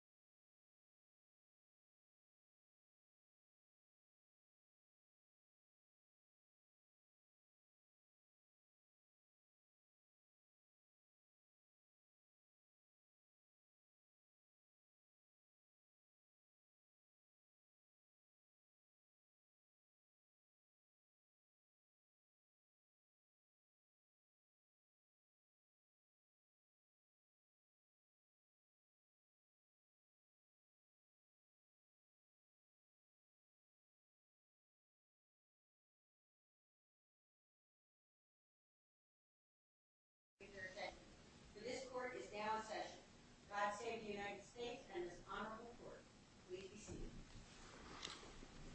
www.LockheedMartin.com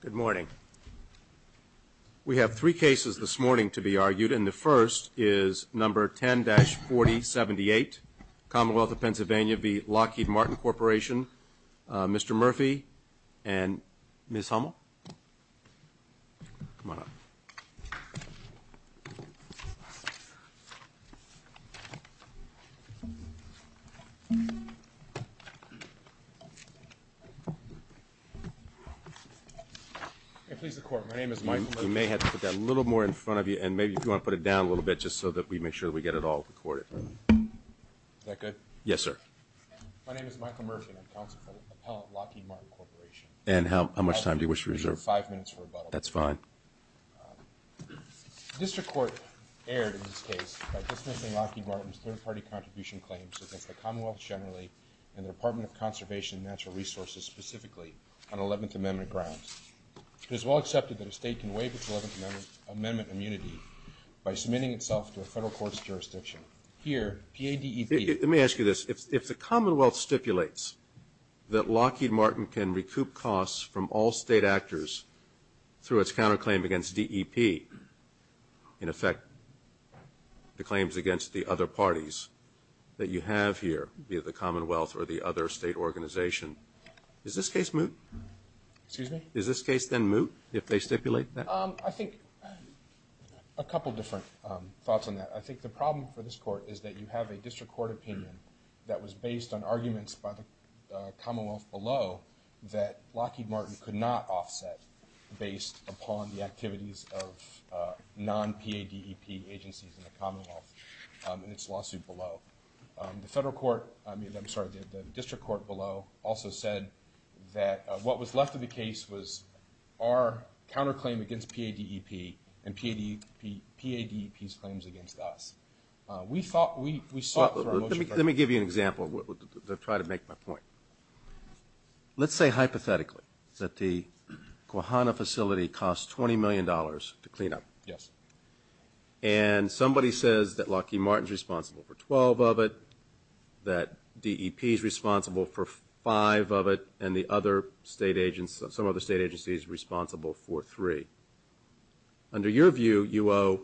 Good morning. We have three cases this morning to be argued and the first is number 10-4078, Commonwealth of Pennsylvania v. Lockheed Martin Corporation. Mr. Murphy and Ms. Hummel, come on up. Please record. My name is Michael Murphy. You may have to put that a little more in front of you and maybe if you want to put it down a little bit just so that we make sure we get it all recorded. Is that good? Yes, sir. My name is Michael Murphy and I'm counsel for the appellate Lockheed Martin Corporation. And how much time do you wish to reserve? I'll give you five minutes for rebuttal. That's fine. The district court erred in this case by dismissing Lockheed Martin's third-party contribution claims against the Commonwealth generally and the Department of Conservation and Natural Resources specifically on Eleventh Amendment grounds. It is well accepted that a state can waive its Eleventh Amendment immunity by submitting itself to a federal court's jurisdiction. Here, P.A.D.E.P. Let me ask you a question. If the Commonwealth stipulates that Lockheed Martin can recoup costs from all state actors through its counterclaim against D.E.P., in effect, the claims against the other parties that you have here, be it the Commonwealth or the other state organization, is this case moot? Excuse me? Is this case then moot if they stipulate that? I think a couple of different thoughts on that. I think the problem for this court is that you have a district court opinion that was based on arguments by the Commonwealth below that Lockheed Martin could not offset based upon the activities of non-P.A.D.E.P. agencies in the Commonwealth in its lawsuit below. The federal court, I mean, I'm sorry, the district court below also said that what was Let me give you an example to try to make my point. Let's say hypothetically that the Guahana facility costs $20 million to clean up. And somebody says that Lockheed Martin is responsible for 12 of it, that D.E.P. is responsible for 5 of it, and some other state agency is responsible for 3. Under your view, you owe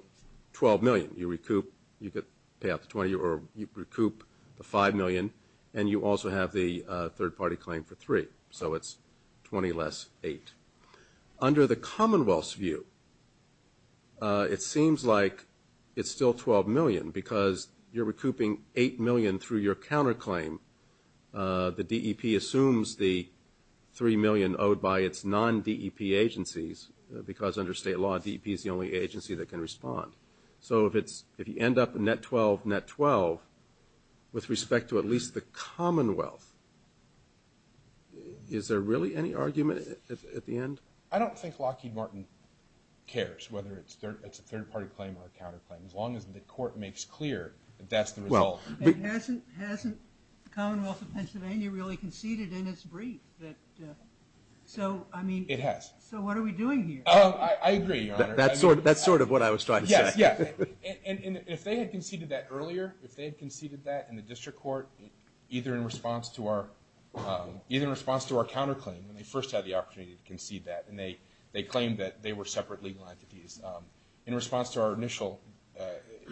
12 million. You recoup, you pay out the 20, or you recoup the 5 million, and you also have the third party claim for 3. So it's 20 less 8. Under the Commonwealth's view, it seems like it's still 12 million because you're recouping 8 million through your counterclaim. The D.E.P. assumes the 3 million owed by its non-D.E.P. agencies because under state law, D.E.P. is the only agency that can respond. So if you end up in net 12, net 12, with respect to at least the Commonwealth, is there really any argument at the end? I don't think Lockheed Martin cares whether it's a third party claim or a counterclaim. As long as the court makes clear that that's the result. Well, hasn't the Commonwealth of Pennsylvania really conceded in its brief that, so I mean, It has. So what are we doing here? I agree, Your Honor. That's sort of what I was trying to say. Yes, yes. And if they had conceded that earlier, if they had conceded that in the district court, either in response to our counterclaim, when they first had the opportunity to concede that, and they claimed that they were separate legal entities, in response to our initial,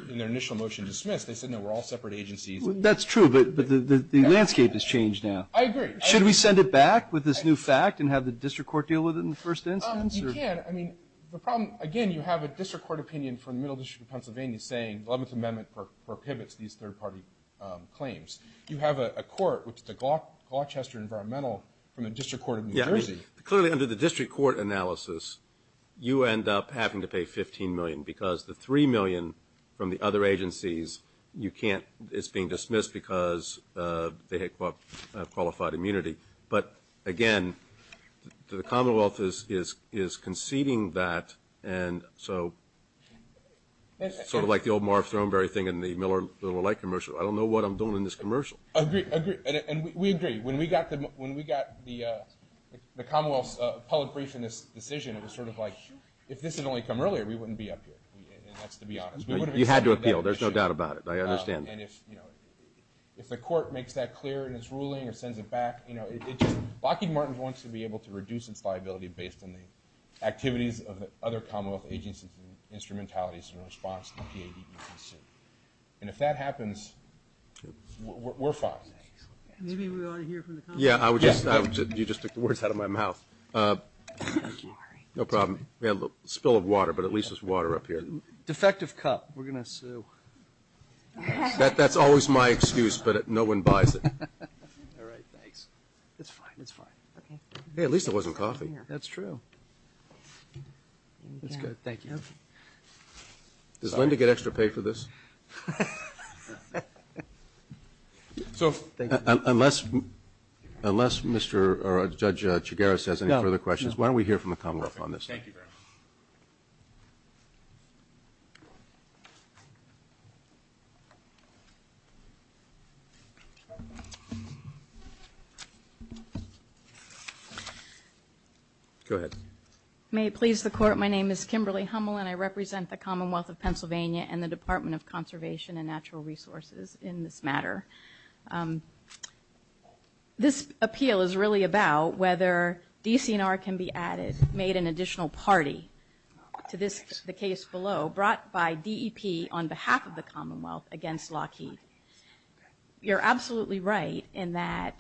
in their initial motion to dismiss, they said no, we're all separate agencies. That's true, but the landscape has changed now. I agree. Should we send it back with this new fact and have the district court deal with it in the first instance? You can. I mean, the problem, again, you have a district court opinion from the Middle District of Pennsylvania saying the 11th Amendment prohibits these third party claims. You have a court, which is the Gloucester Environmental, from the District Court of New Jersey. Yeah, I mean, clearly under the district court analysis, you end up having to pay $15 million because the $3 million from the other agencies, you can't, it's being dismissed because they have qualified immunity. But again, the Commonwealth is conceding that, and so, sort of like the old Marv Thornberry thing in the Miller Little Light commercial, I don't know what I'm doing in this commercial. Agree, agree. And we agree. When we got the Commonwealth's appellate brief in this decision, it was sort of like, if this had only come earlier, we wouldn't be up here, and that's to be honest. You had to appeal. There's no doubt about it. I understand. And if the court makes that clear in its ruling or sends it back, Lockheed Martin wants to be able to reduce its liability based on the activities of the other Commonwealth agencies and instrumentalities in response to the PADB's decision, and if that happens, we're fine. Maybe we ought to hear from the Commonwealth. Yeah, I would just, you just took the words out of my mouth. No problem. We had a spill of water, but at least there's water up here. Defective cup. We're going to sue. That's always my excuse, but no one buys it. All right. Thanks. It's fine. It's fine. Hey, at least it wasn't coffee. That's true. That's good. Thank you. Does Linda get extra pay for this? So, unless Mr. or Judge Chigares has any further questions, why don't we hear from the Commonwealth on this? Thank you very much. Go ahead. May it please the Court, my name is Kimberly Hummel, and I represent the Commonwealth of Pennsylvania and the Department of Conservation and Natural Resources in this matter. This appeal is really about whether DC&R can be added, made an additional party to this, the case below, brought by DEP on behalf of the Commonwealth against Lockheed. You're absolutely right in that,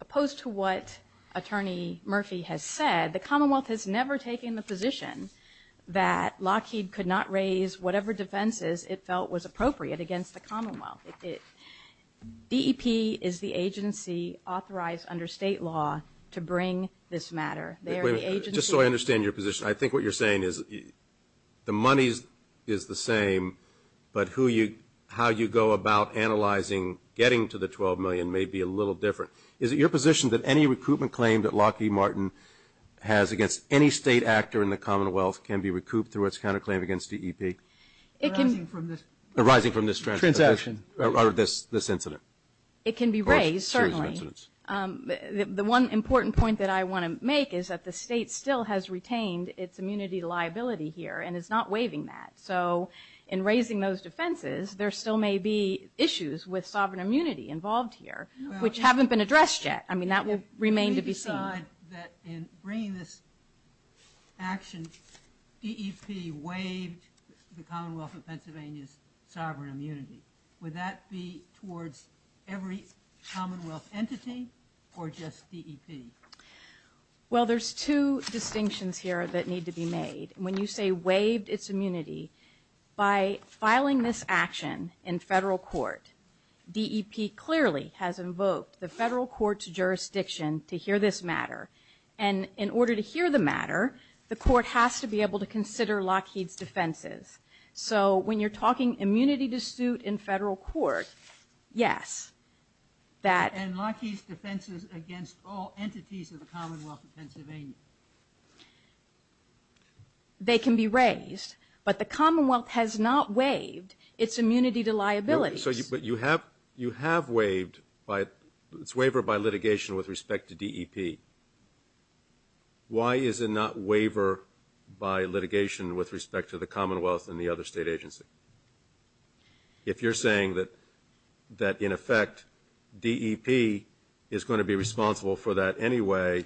opposed to what Attorney Murphy has said, the Commonwealth has never taken the position that Lockheed could not raise whatever defenses it felt was appropriate against the Commonwealth. DEP is the agency authorized under state law to bring this matter. Just so I understand your position, I think what you're saying is the money is the same, but how you go about analyzing getting to the $12 million may be a little different. Is it your position that any recoupment claim that Lockheed Martin has against any state actor in the Commonwealth can be recouped through its counterclaim against DEP? Arising from this transaction. Or this incident. It can be raised, certainly. The one important point that I want to make is that the state still has retained its immunity liability here and is not waiving that. So in raising those defenses, there still may be issues with sovereign immunity involved here, which haven't been addressed yet. That will remain to be seen. If we decide that in bringing this action, DEP waived the Commonwealth of Pennsylvania's entity or just DEP? Well, there's two distinctions here that need to be made. When you say waived its immunity, by filing this action in federal court, DEP clearly has invoked the federal court's jurisdiction to hear this matter. And in order to hear the matter, the court has to be able to consider Lockheed's defenses. So when you're talking immunity to suit in federal court, yes. And Lockheed's defenses against all entities of the Commonwealth of Pennsylvania? They can be raised. But the Commonwealth has not waived its immunity to liabilities. But you have waived its waiver by litigation with respect to DEP. Why is it not waiver by litigation with respect to the Commonwealth and the other state agency? If you're saying that, in effect, DEP is going to be responsible for that anyway,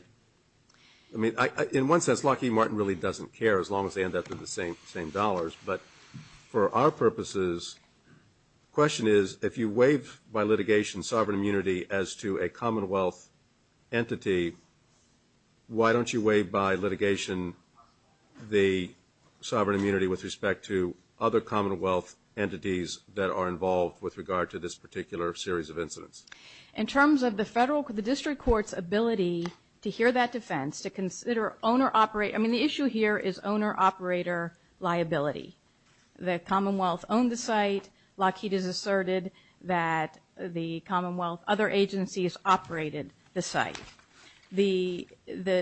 I mean, in one sense, Lockheed Martin really doesn't care, as long as they end up with the same dollars. But for our purposes, the question is, if you waive by litigation sovereign immunity as to a Commonwealth entity, why don't you waive by litigation the sovereign immunity with respect to other Commonwealth entities that are involved with regard to this particular series of incidents? In terms of the district court's ability to hear that defense, to consider owner-operator, I mean, the issue here is owner-operator liability. The Commonwealth owned the site. Lockheed has asserted that the Commonwealth, other agencies operated the site. The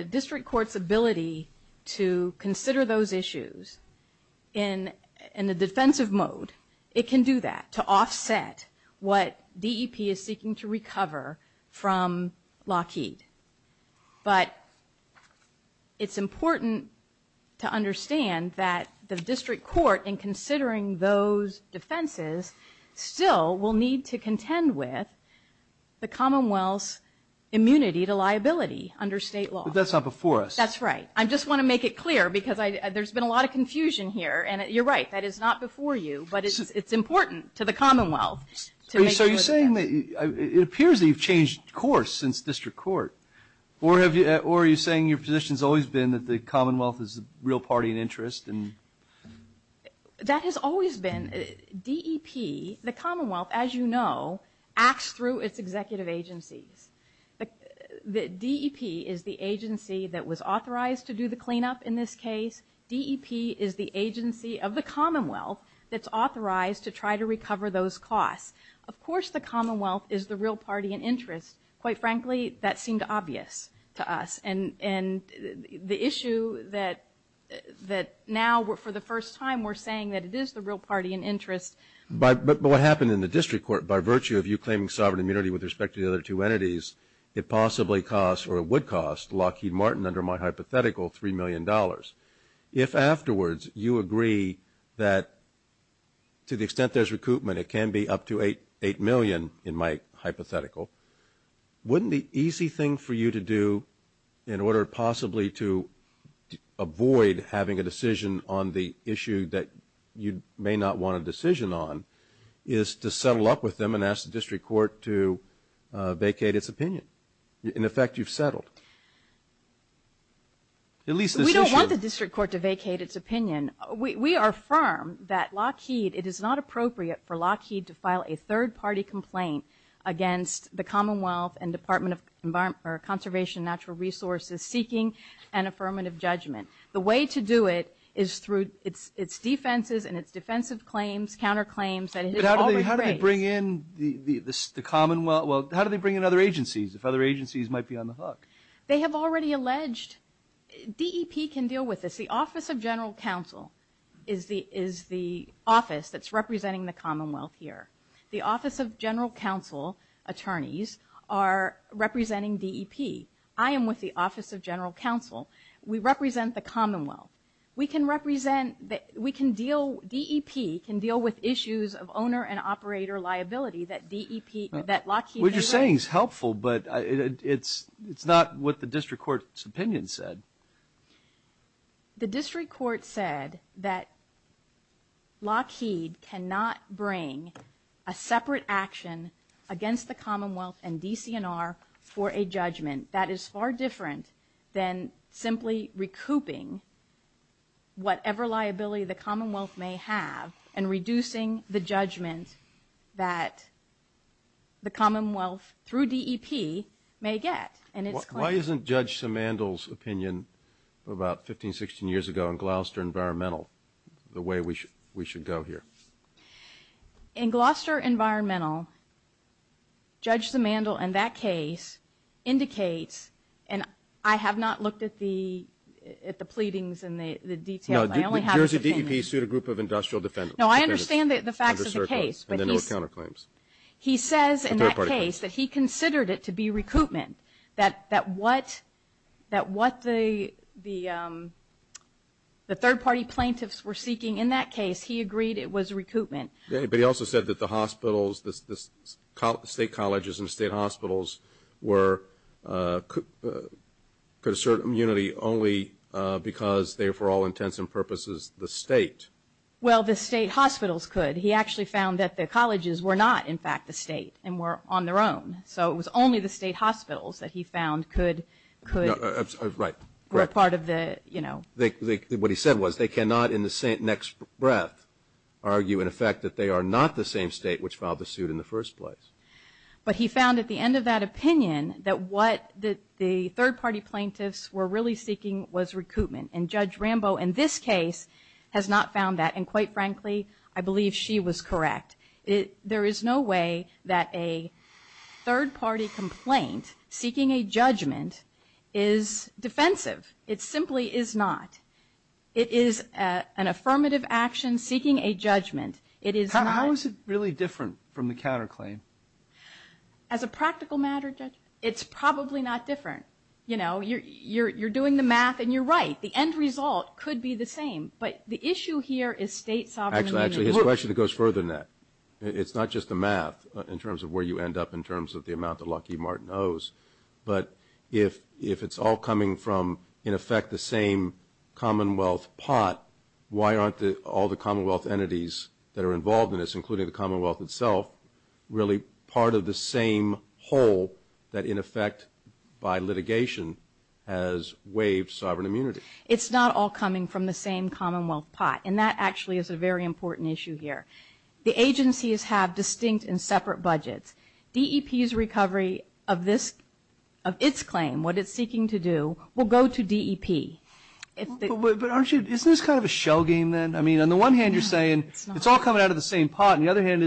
district court's ability to consider those issues in a defensive mode, it can do that to offset what DEP is seeking to recover from Lockheed. But it's important to understand that the district court, in considering those defenses, still will need to contend with the Commonwealth's immunity to liability under state law. But that's not before us. That's right. I just want to make it clear, because there's been a lot of confusion here, and you're right, that is not before you. But it's important to the Commonwealth to make sure of that. It appears that you've changed course since district court. Or are you saying your position has always been that the Commonwealth is a real party in interest? That has always been. DEP, the Commonwealth, as you know, acts through its executive agencies. DEP is the agency that was authorized to do the cleanup in this case. DEP is the agency of the Commonwealth that's authorized to try to recover those costs. Of course the Commonwealth is the real party in interest. Quite frankly, that seemed obvious to us. And the issue that now, for the first time, we're saying that it is the real party in interest. But what happened in the district court, by virtue of you claiming sovereign immunity with respect to the other two entities, it possibly costs, or it would cost, Lockheed Martin, under my hypothetical, $3 million. If afterwards you agree that, to the extent there's recoupment, it can be up to $8 million in my hypothetical, wouldn't the easy thing for you to do in order possibly to avoid having a decision on the issue that you may not want a decision on is to settle up with them and ask the district court to vacate its opinion? In effect, you've settled. At least this issue. We don't want the district court to vacate its opinion. We are firm that Lockheed, it is not appropriate for Lockheed to file a third-party complaint against the Commonwealth and Department of Conservation and Natural Resources seeking an affirmative judgment. The way to do it is through its defenses and its defensive claims, counterclaims. But how do they bring in the Commonwealth? How do they bring in other agencies if other agencies might be on the hook? They have already alleged. DEP can deal with this. The Office of General Counsel is the office that's representing the Commonwealth here. The Office of General Counsel attorneys are representing DEP. We represent the Commonwealth. We can represent, we can deal, DEP can deal with issues of owner and operator liability that DEP, that Lockheed. What you're saying is helpful, but it's not what the district court's opinion said. The district court said that Lockheed cannot bring a separate action against the Commonwealth and DCNR for a judgment that is far different than simply recouping whatever liability the Commonwealth may have and reducing the judgment that the Commonwealth through DEP may get. Why isn't Judge Simandl's opinion about 15, 16 years ago in Gloucester Environmental the way we should go here? In Gloucester Environmental, Judge Simandl in that case indicates and I have not looked at the pleadings and the details. I only have his opinion. No, the Jersey DEP sued a group of industrial defendants. No, I understand the facts of the case, but he says in that case that he considered it to be recoupment, that what the third-party plaintiffs were seeking in that case, he agreed it was recoupment. But he also said that the hospitals, the state colleges and state hospitals could assert immunity only because they were for all intents and purposes the state. Well, the state hospitals could. He actually found that the colleges were not, in fact, the state and were on their own. So it was only the state hospitals that he found could be a part of the, you know. What he said was they cannot in the next breath argue in effect that they are not the same state which filed the suit in the first place. But he found at the end of that opinion that what the third-party plaintiffs were really seeking was recoupment. And Judge Rambo in this case has not found that. And quite frankly, I believe she was correct. There is no way that a third-party complaint seeking a judgment is defensive. It simply is not. It is an affirmative action seeking a judgment. It is not. How is it really different from the counterclaim? As a practical matter, Judge, it's probably not different. You know, you're doing the math and you're right. The end result could be the same. But the issue here is state sovereignty. Actually, his question goes further than that. It's not just the math in terms of where you end up in terms of the amount that Lockheed Martin owes. But if it's all coming from, in effect, the same commonwealth pot, why aren't all the commonwealth entities that are involved in this, including the commonwealth itself, really part of the same whole that, in effect, by litigation has waived sovereign immunity? It's not all coming from the same commonwealth pot. And that actually is a very important issue here. The agencies have distinct and separate budgets. DEP's recovery of its claim, what it's seeking to do, will go to DEP. But isn't this kind of a shell game then? I mean, on the one hand, you're saying it's all coming out of the same pot. On the other hand,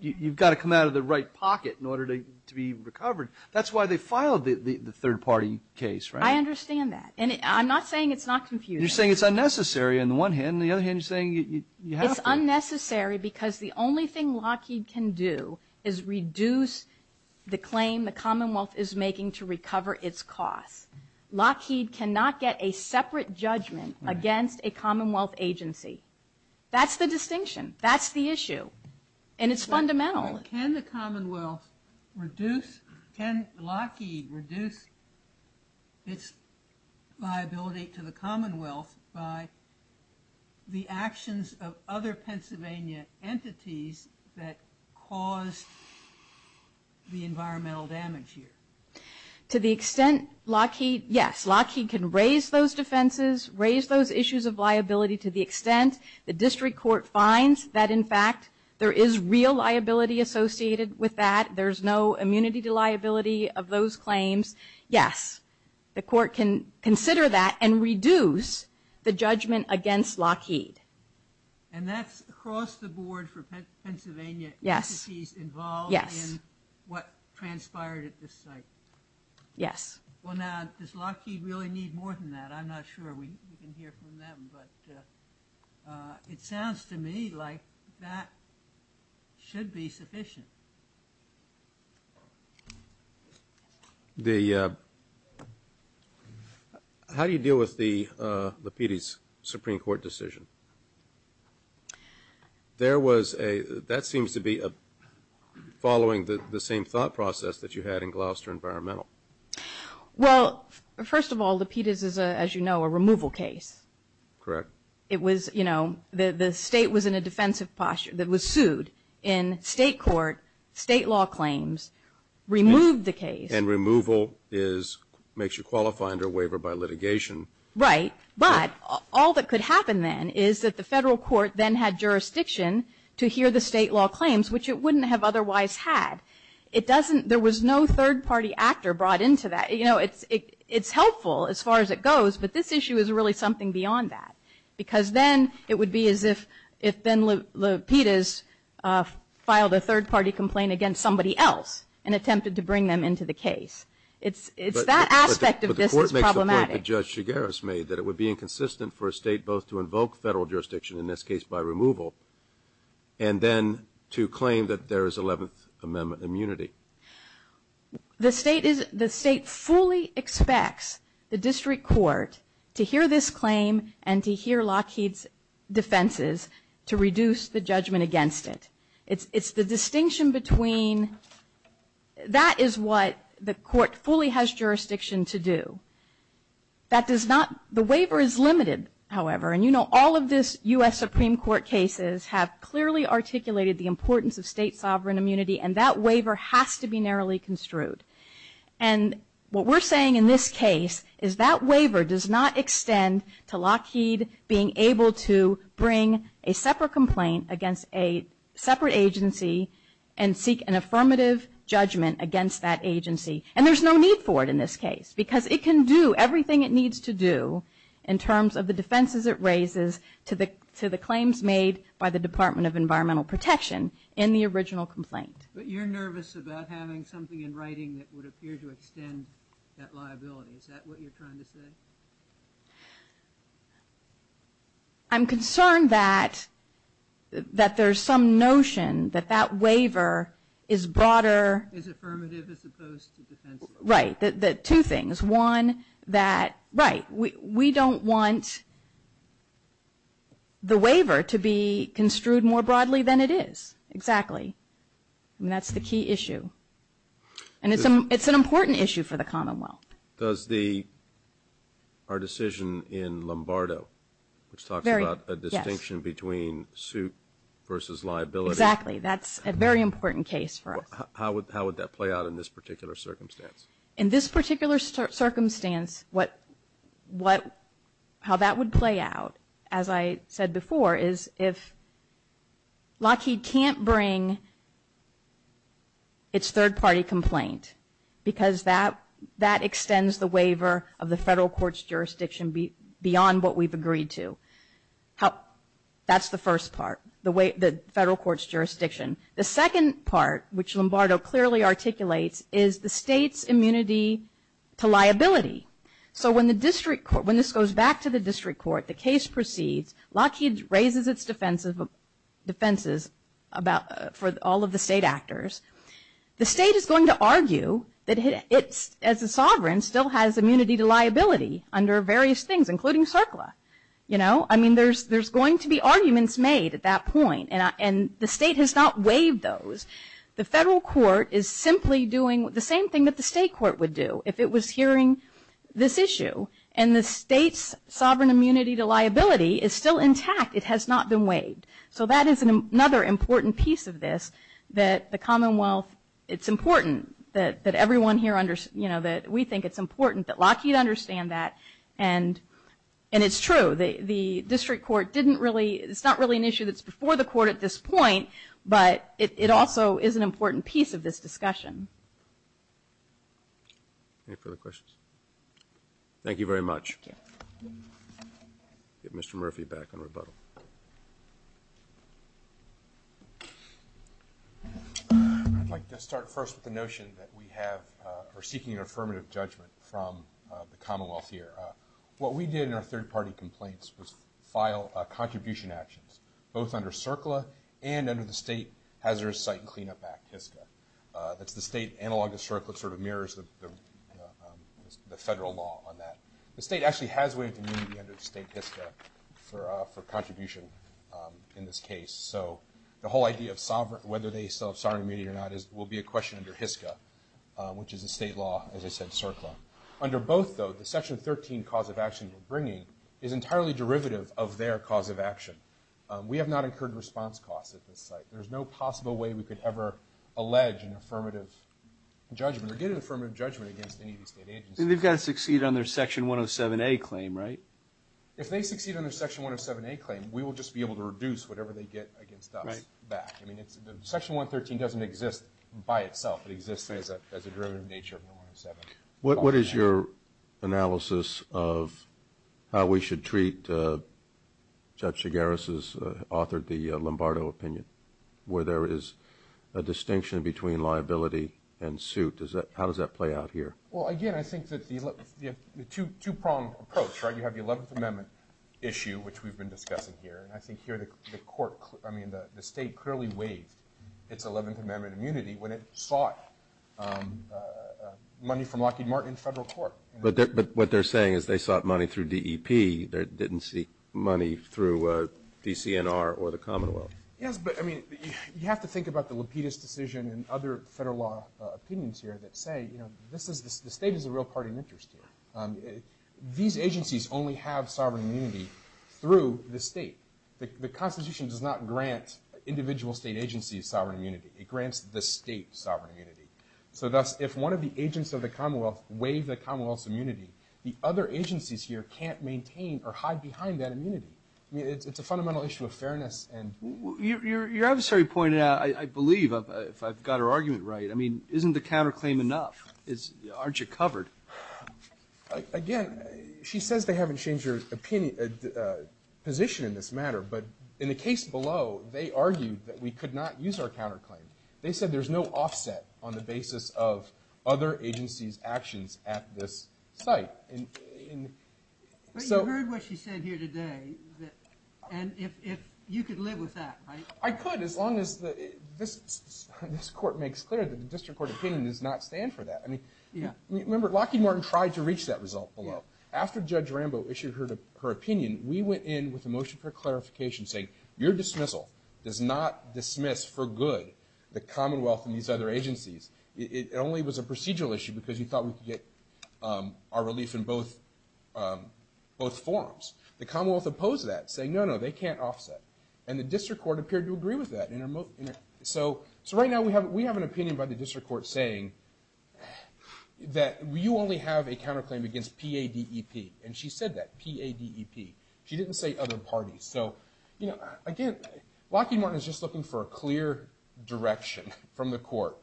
you've got to come out of the right pocket in order to be recovered. That's why they filed the third-party case, right? I understand that. And I'm not saying it's not confusing. You're saying it's unnecessary on the one hand. On the other hand, you're saying you have to. It's unnecessary because the only thing Lockheed can do is reduce the claim the commonwealth is making to recover its costs. Lockheed cannot get a separate judgment against a commonwealth agency. That's the distinction. That's the issue. And it's fundamental. Can the commonwealth reduce, can Lockheed reduce its liability to the commonwealth by the actions of other Pennsylvania entities that caused the environmental damage here? To the extent Lockheed, yes. Lockheed can raise those defenses, raise those issues of liability to the extent the district court finds that, in fact, there is real liability associated with that. There's no immunity to liability of those claims. Yes, the court can consider that and reduce the judgment against Lockheed. And that's across the board for Pennsylvania entities involved in what transpired at this site? Yes. Well, now, does Lockheed really need more than that? I'm not sure. We can hear from them. But it sounds to me like that should be sufficient. How do you deal with the Lapides Supreme Court decision? That seems to be following the same thought process that you had in Gloucester Environmental. Well, first of all, Lapides is, as you know, a removal case. Correct. It was, you know, the state was in a defensive posture that was sued in state court, state law claims, removed the case. And removal makes you qualify under waiver by litigation. Right. But all that could happen then is that the federal court then had jurisdiction to hear the state law claims, which it wouldn't have otherwise had. There was no third-party actor brought into that. You know, it's helpful as far as it goes, but this issue is really something beyond that. Because then it would be as if Ben Lapides filed a third-party complaint against somebody else and attempted to bring them into the case. It's that aspect of this that's problematic. But the court makes the point that Judge Chigueras made, that it would be inconsistent for a state both to invoke federal jurisdiction, in this case by removal, and then to claim that there is 11th Amendment immunity. The state is, the state fully expects the district court to hear this claim and to hear Lapides' defenses to reduce the judgment against it. It's the distinction between, that is what the court fully has jurisdiction to do. That does not, the waiver is limited, however. And you know all of this U.S. Supreme Court cases have clearly articulated the importance of state sovereign immunity, and that waiver has to be narrowly construed. And what we're saying in this case is that waiver does not extend to Lapides being able to bring a separate complaint against a separate agency and seek an affirmative judgment against that agency. And there's no need for it in this case, because it can do everything it needs to do in terms of the defenses it raises to the claims made by the Department of Environmental Protection in the original complaint. But you're nervous about having something in writing that would appear to extend that liability. Is that what you're trying to say? I'm concerned that there's some notion that that waiver is broader. Is affirmative as opposed to defensive. Right. One, that, right, we don't want the waiver to be construed more broadly than it is. Exactly. And that's the key issue. And it's an important issue for the Commonwealth. Does the, our decision in Lombardo, which talks about a distinction between suit versus liability. Exactly. That's a very important case for us. How would that play out in this particular circumstance? In this particular circumstance, how that would play out, as I said before, is if Lockheed can't bring its third-party complaint, because that extends the waiver of the federal court's jurisdiction beyond what we've agreed to. That's the first part, the federal court's jurisdiction. The second part, which Lombardo clearly articulates, is the state's immunity to liability. So when the district court, when this goes back to the district court, the case proceeds, Lockheed raises its defenses for all of the state actors. The state is going to argue that it, as a sovereign, still has immunity to liability under various things, including CERCLA, you know. I mean, there's going to be arguments made at that point. And the state has not waived those. The federal court is simply doing the same thing that the state court would do if it was hearing this issue. And the state's sovereign immunity to liability is still intact. It has not been waived. So that is another important piece of this, that the Commonwealth, it's important that everyone here, you know, that we think it's important that Lockheed understand that. And it's true. The district court didn't really, it's not really an issue that's before the court at this point, but it also is an important piece of this discussion. Any further questions? Thank you very much. Thank you. Get Mr. Murphy back on rebuttal. I'd like to start first with the notion that we have, are seeking an affirmative judgment from the Commonwealth here. What we did in our third-party complaints was file contribution actions, both under CERCLA and under the State Hazardous Site Cleanup Act, HISCA. That's the state analog of CERCLA. It sort of mirrors the federal law on that. The state actually has waived immunity under state HISCA for contribution in this case. So the whole idea of whether they still have sovereign immunity or not will be a question under HISCA, which is a state law, as I said, CERCLA. Under both, though, the Section 13 cause of action we're bringing is entirely derivative of their cause of action. We have not incurred response costs at this site. There's no possible way we could ever allege an affirmative judgment or get an affirmative judgment against any of these state agencies. They've got to succeed on their Section 107A claim, right? If they succeed on their Section 107A claim, we will just be able to reduce whatever they get against us back. I mean, Section 113 doesn't exist by itself. It exists as a derivative nature of the 107. What is your analysis of how we should treat Judge Chigares' authored, the Lombardo opinion, where there is a distinction between liability and suit? How does that play out here? Well, again, I think that the two-pronged approach, right? You have the 11th Amendment issue, which we've been discussing here, and I think here the court, I mean, the state clearly waived its 11th Amendment immunity when it sought money from Lockheed Martin and federal court. But what they're saying is they sought money through DEP. They didn't seek money through DCNR or the Commonwealth. Yes, but, I mean, you have to think about the Lapidus decision and other federal law opinions here that say, you know, the state is a real party of interest here. These agencies only have sovereign immunity through the state. The Constitution does not grant individual state agencies sovereign immunity. It grants the state sovereign immunity. So thus, if one of the agents of the Commonwealth waived the Commonwealth's immunity, the other agencies here can't maintain or hide behind that immunity. I mean, it's a fundamental issue of fairness. Your adversary pointed out, I believe, if I've got her argument right, I mean, isn't the counterclaim enough? Aren't you covered? Again, she says they haven't changed her position in this matter, but in the case below, they argued that we could not use our counterclaim. They said there's no offset on the basis of other agencies' actions at this site. But you heard what she said here today, and you could live with that, right? I could as long as this court makes clear that the district court opinion does not stand for that. Remember, Lockheed Martin tried to reach that result below. After Judge Rambo issued her opinion, we went in with a motion for clarification saying, your dismissal does not dismiss for good the Commonwealth and these other agencies. It only was a procedural issue because you thought we could get our relief in both forums. The Commonwealth opposed that, saying, no, no, they can't offset. And the district court appeared to agree with that. So right now we have an opinion by the district court saying that you only have a counterclaim against P-A-D-E-P, and she said that, P-A-D-E-P. She didn't say other parties. So again, Lockheed Martin is just looking for a clear direction from the court,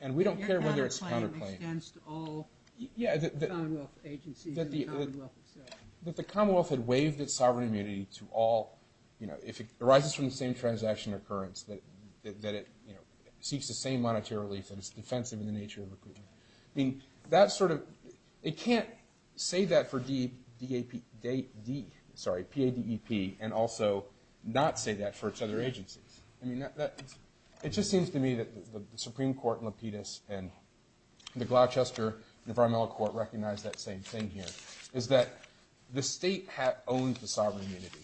and we don't care whether it's a counterclaim. Your counterclaim extends to all Commonwealth agencies and the Commonwealth itself. That the Commonwealth had waived its sovereign immunity to all, if it arises from the same transaction occurrence, that it seeks the same monetary relief and is defensive in the nature of recruitment. It can't say that for P-A-D-E-P and also not say that for its other agencies. It just seems to me that the Supreme Court and Lapidus and the Gloucester Environmental Court recognize that same thing here, is that the state owns the sovereign immunity.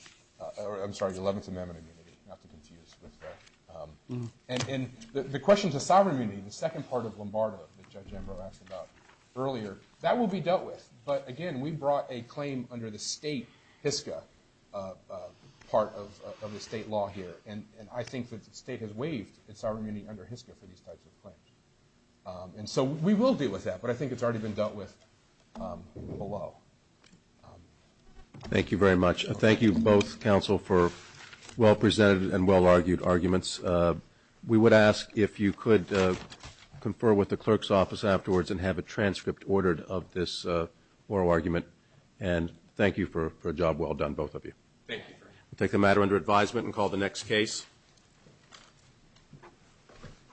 I'm sorry, the Eleventh Amendment immunity, not to confuse. And the question to sovereign immunity, the second part of Lombardo that Judge Ambrose asked about earlier, that will be dealt with. But again, we brought a claim under the state HSCA part of the state law here, and I think that the state has waived its sovereign immunity under HSCA for these types of claims. And so we will deal with that, but I think it's already been dealt with below. Thank you very much. Thank you both, counsel, for well-presented and well-argued arguments. We would ask if you could confer with the clerk's office afterwards and have a transcript ordered of this oral argument. And thank you for a job well done, both of you. Thank you. We'll take the matter under advisement and call the next case.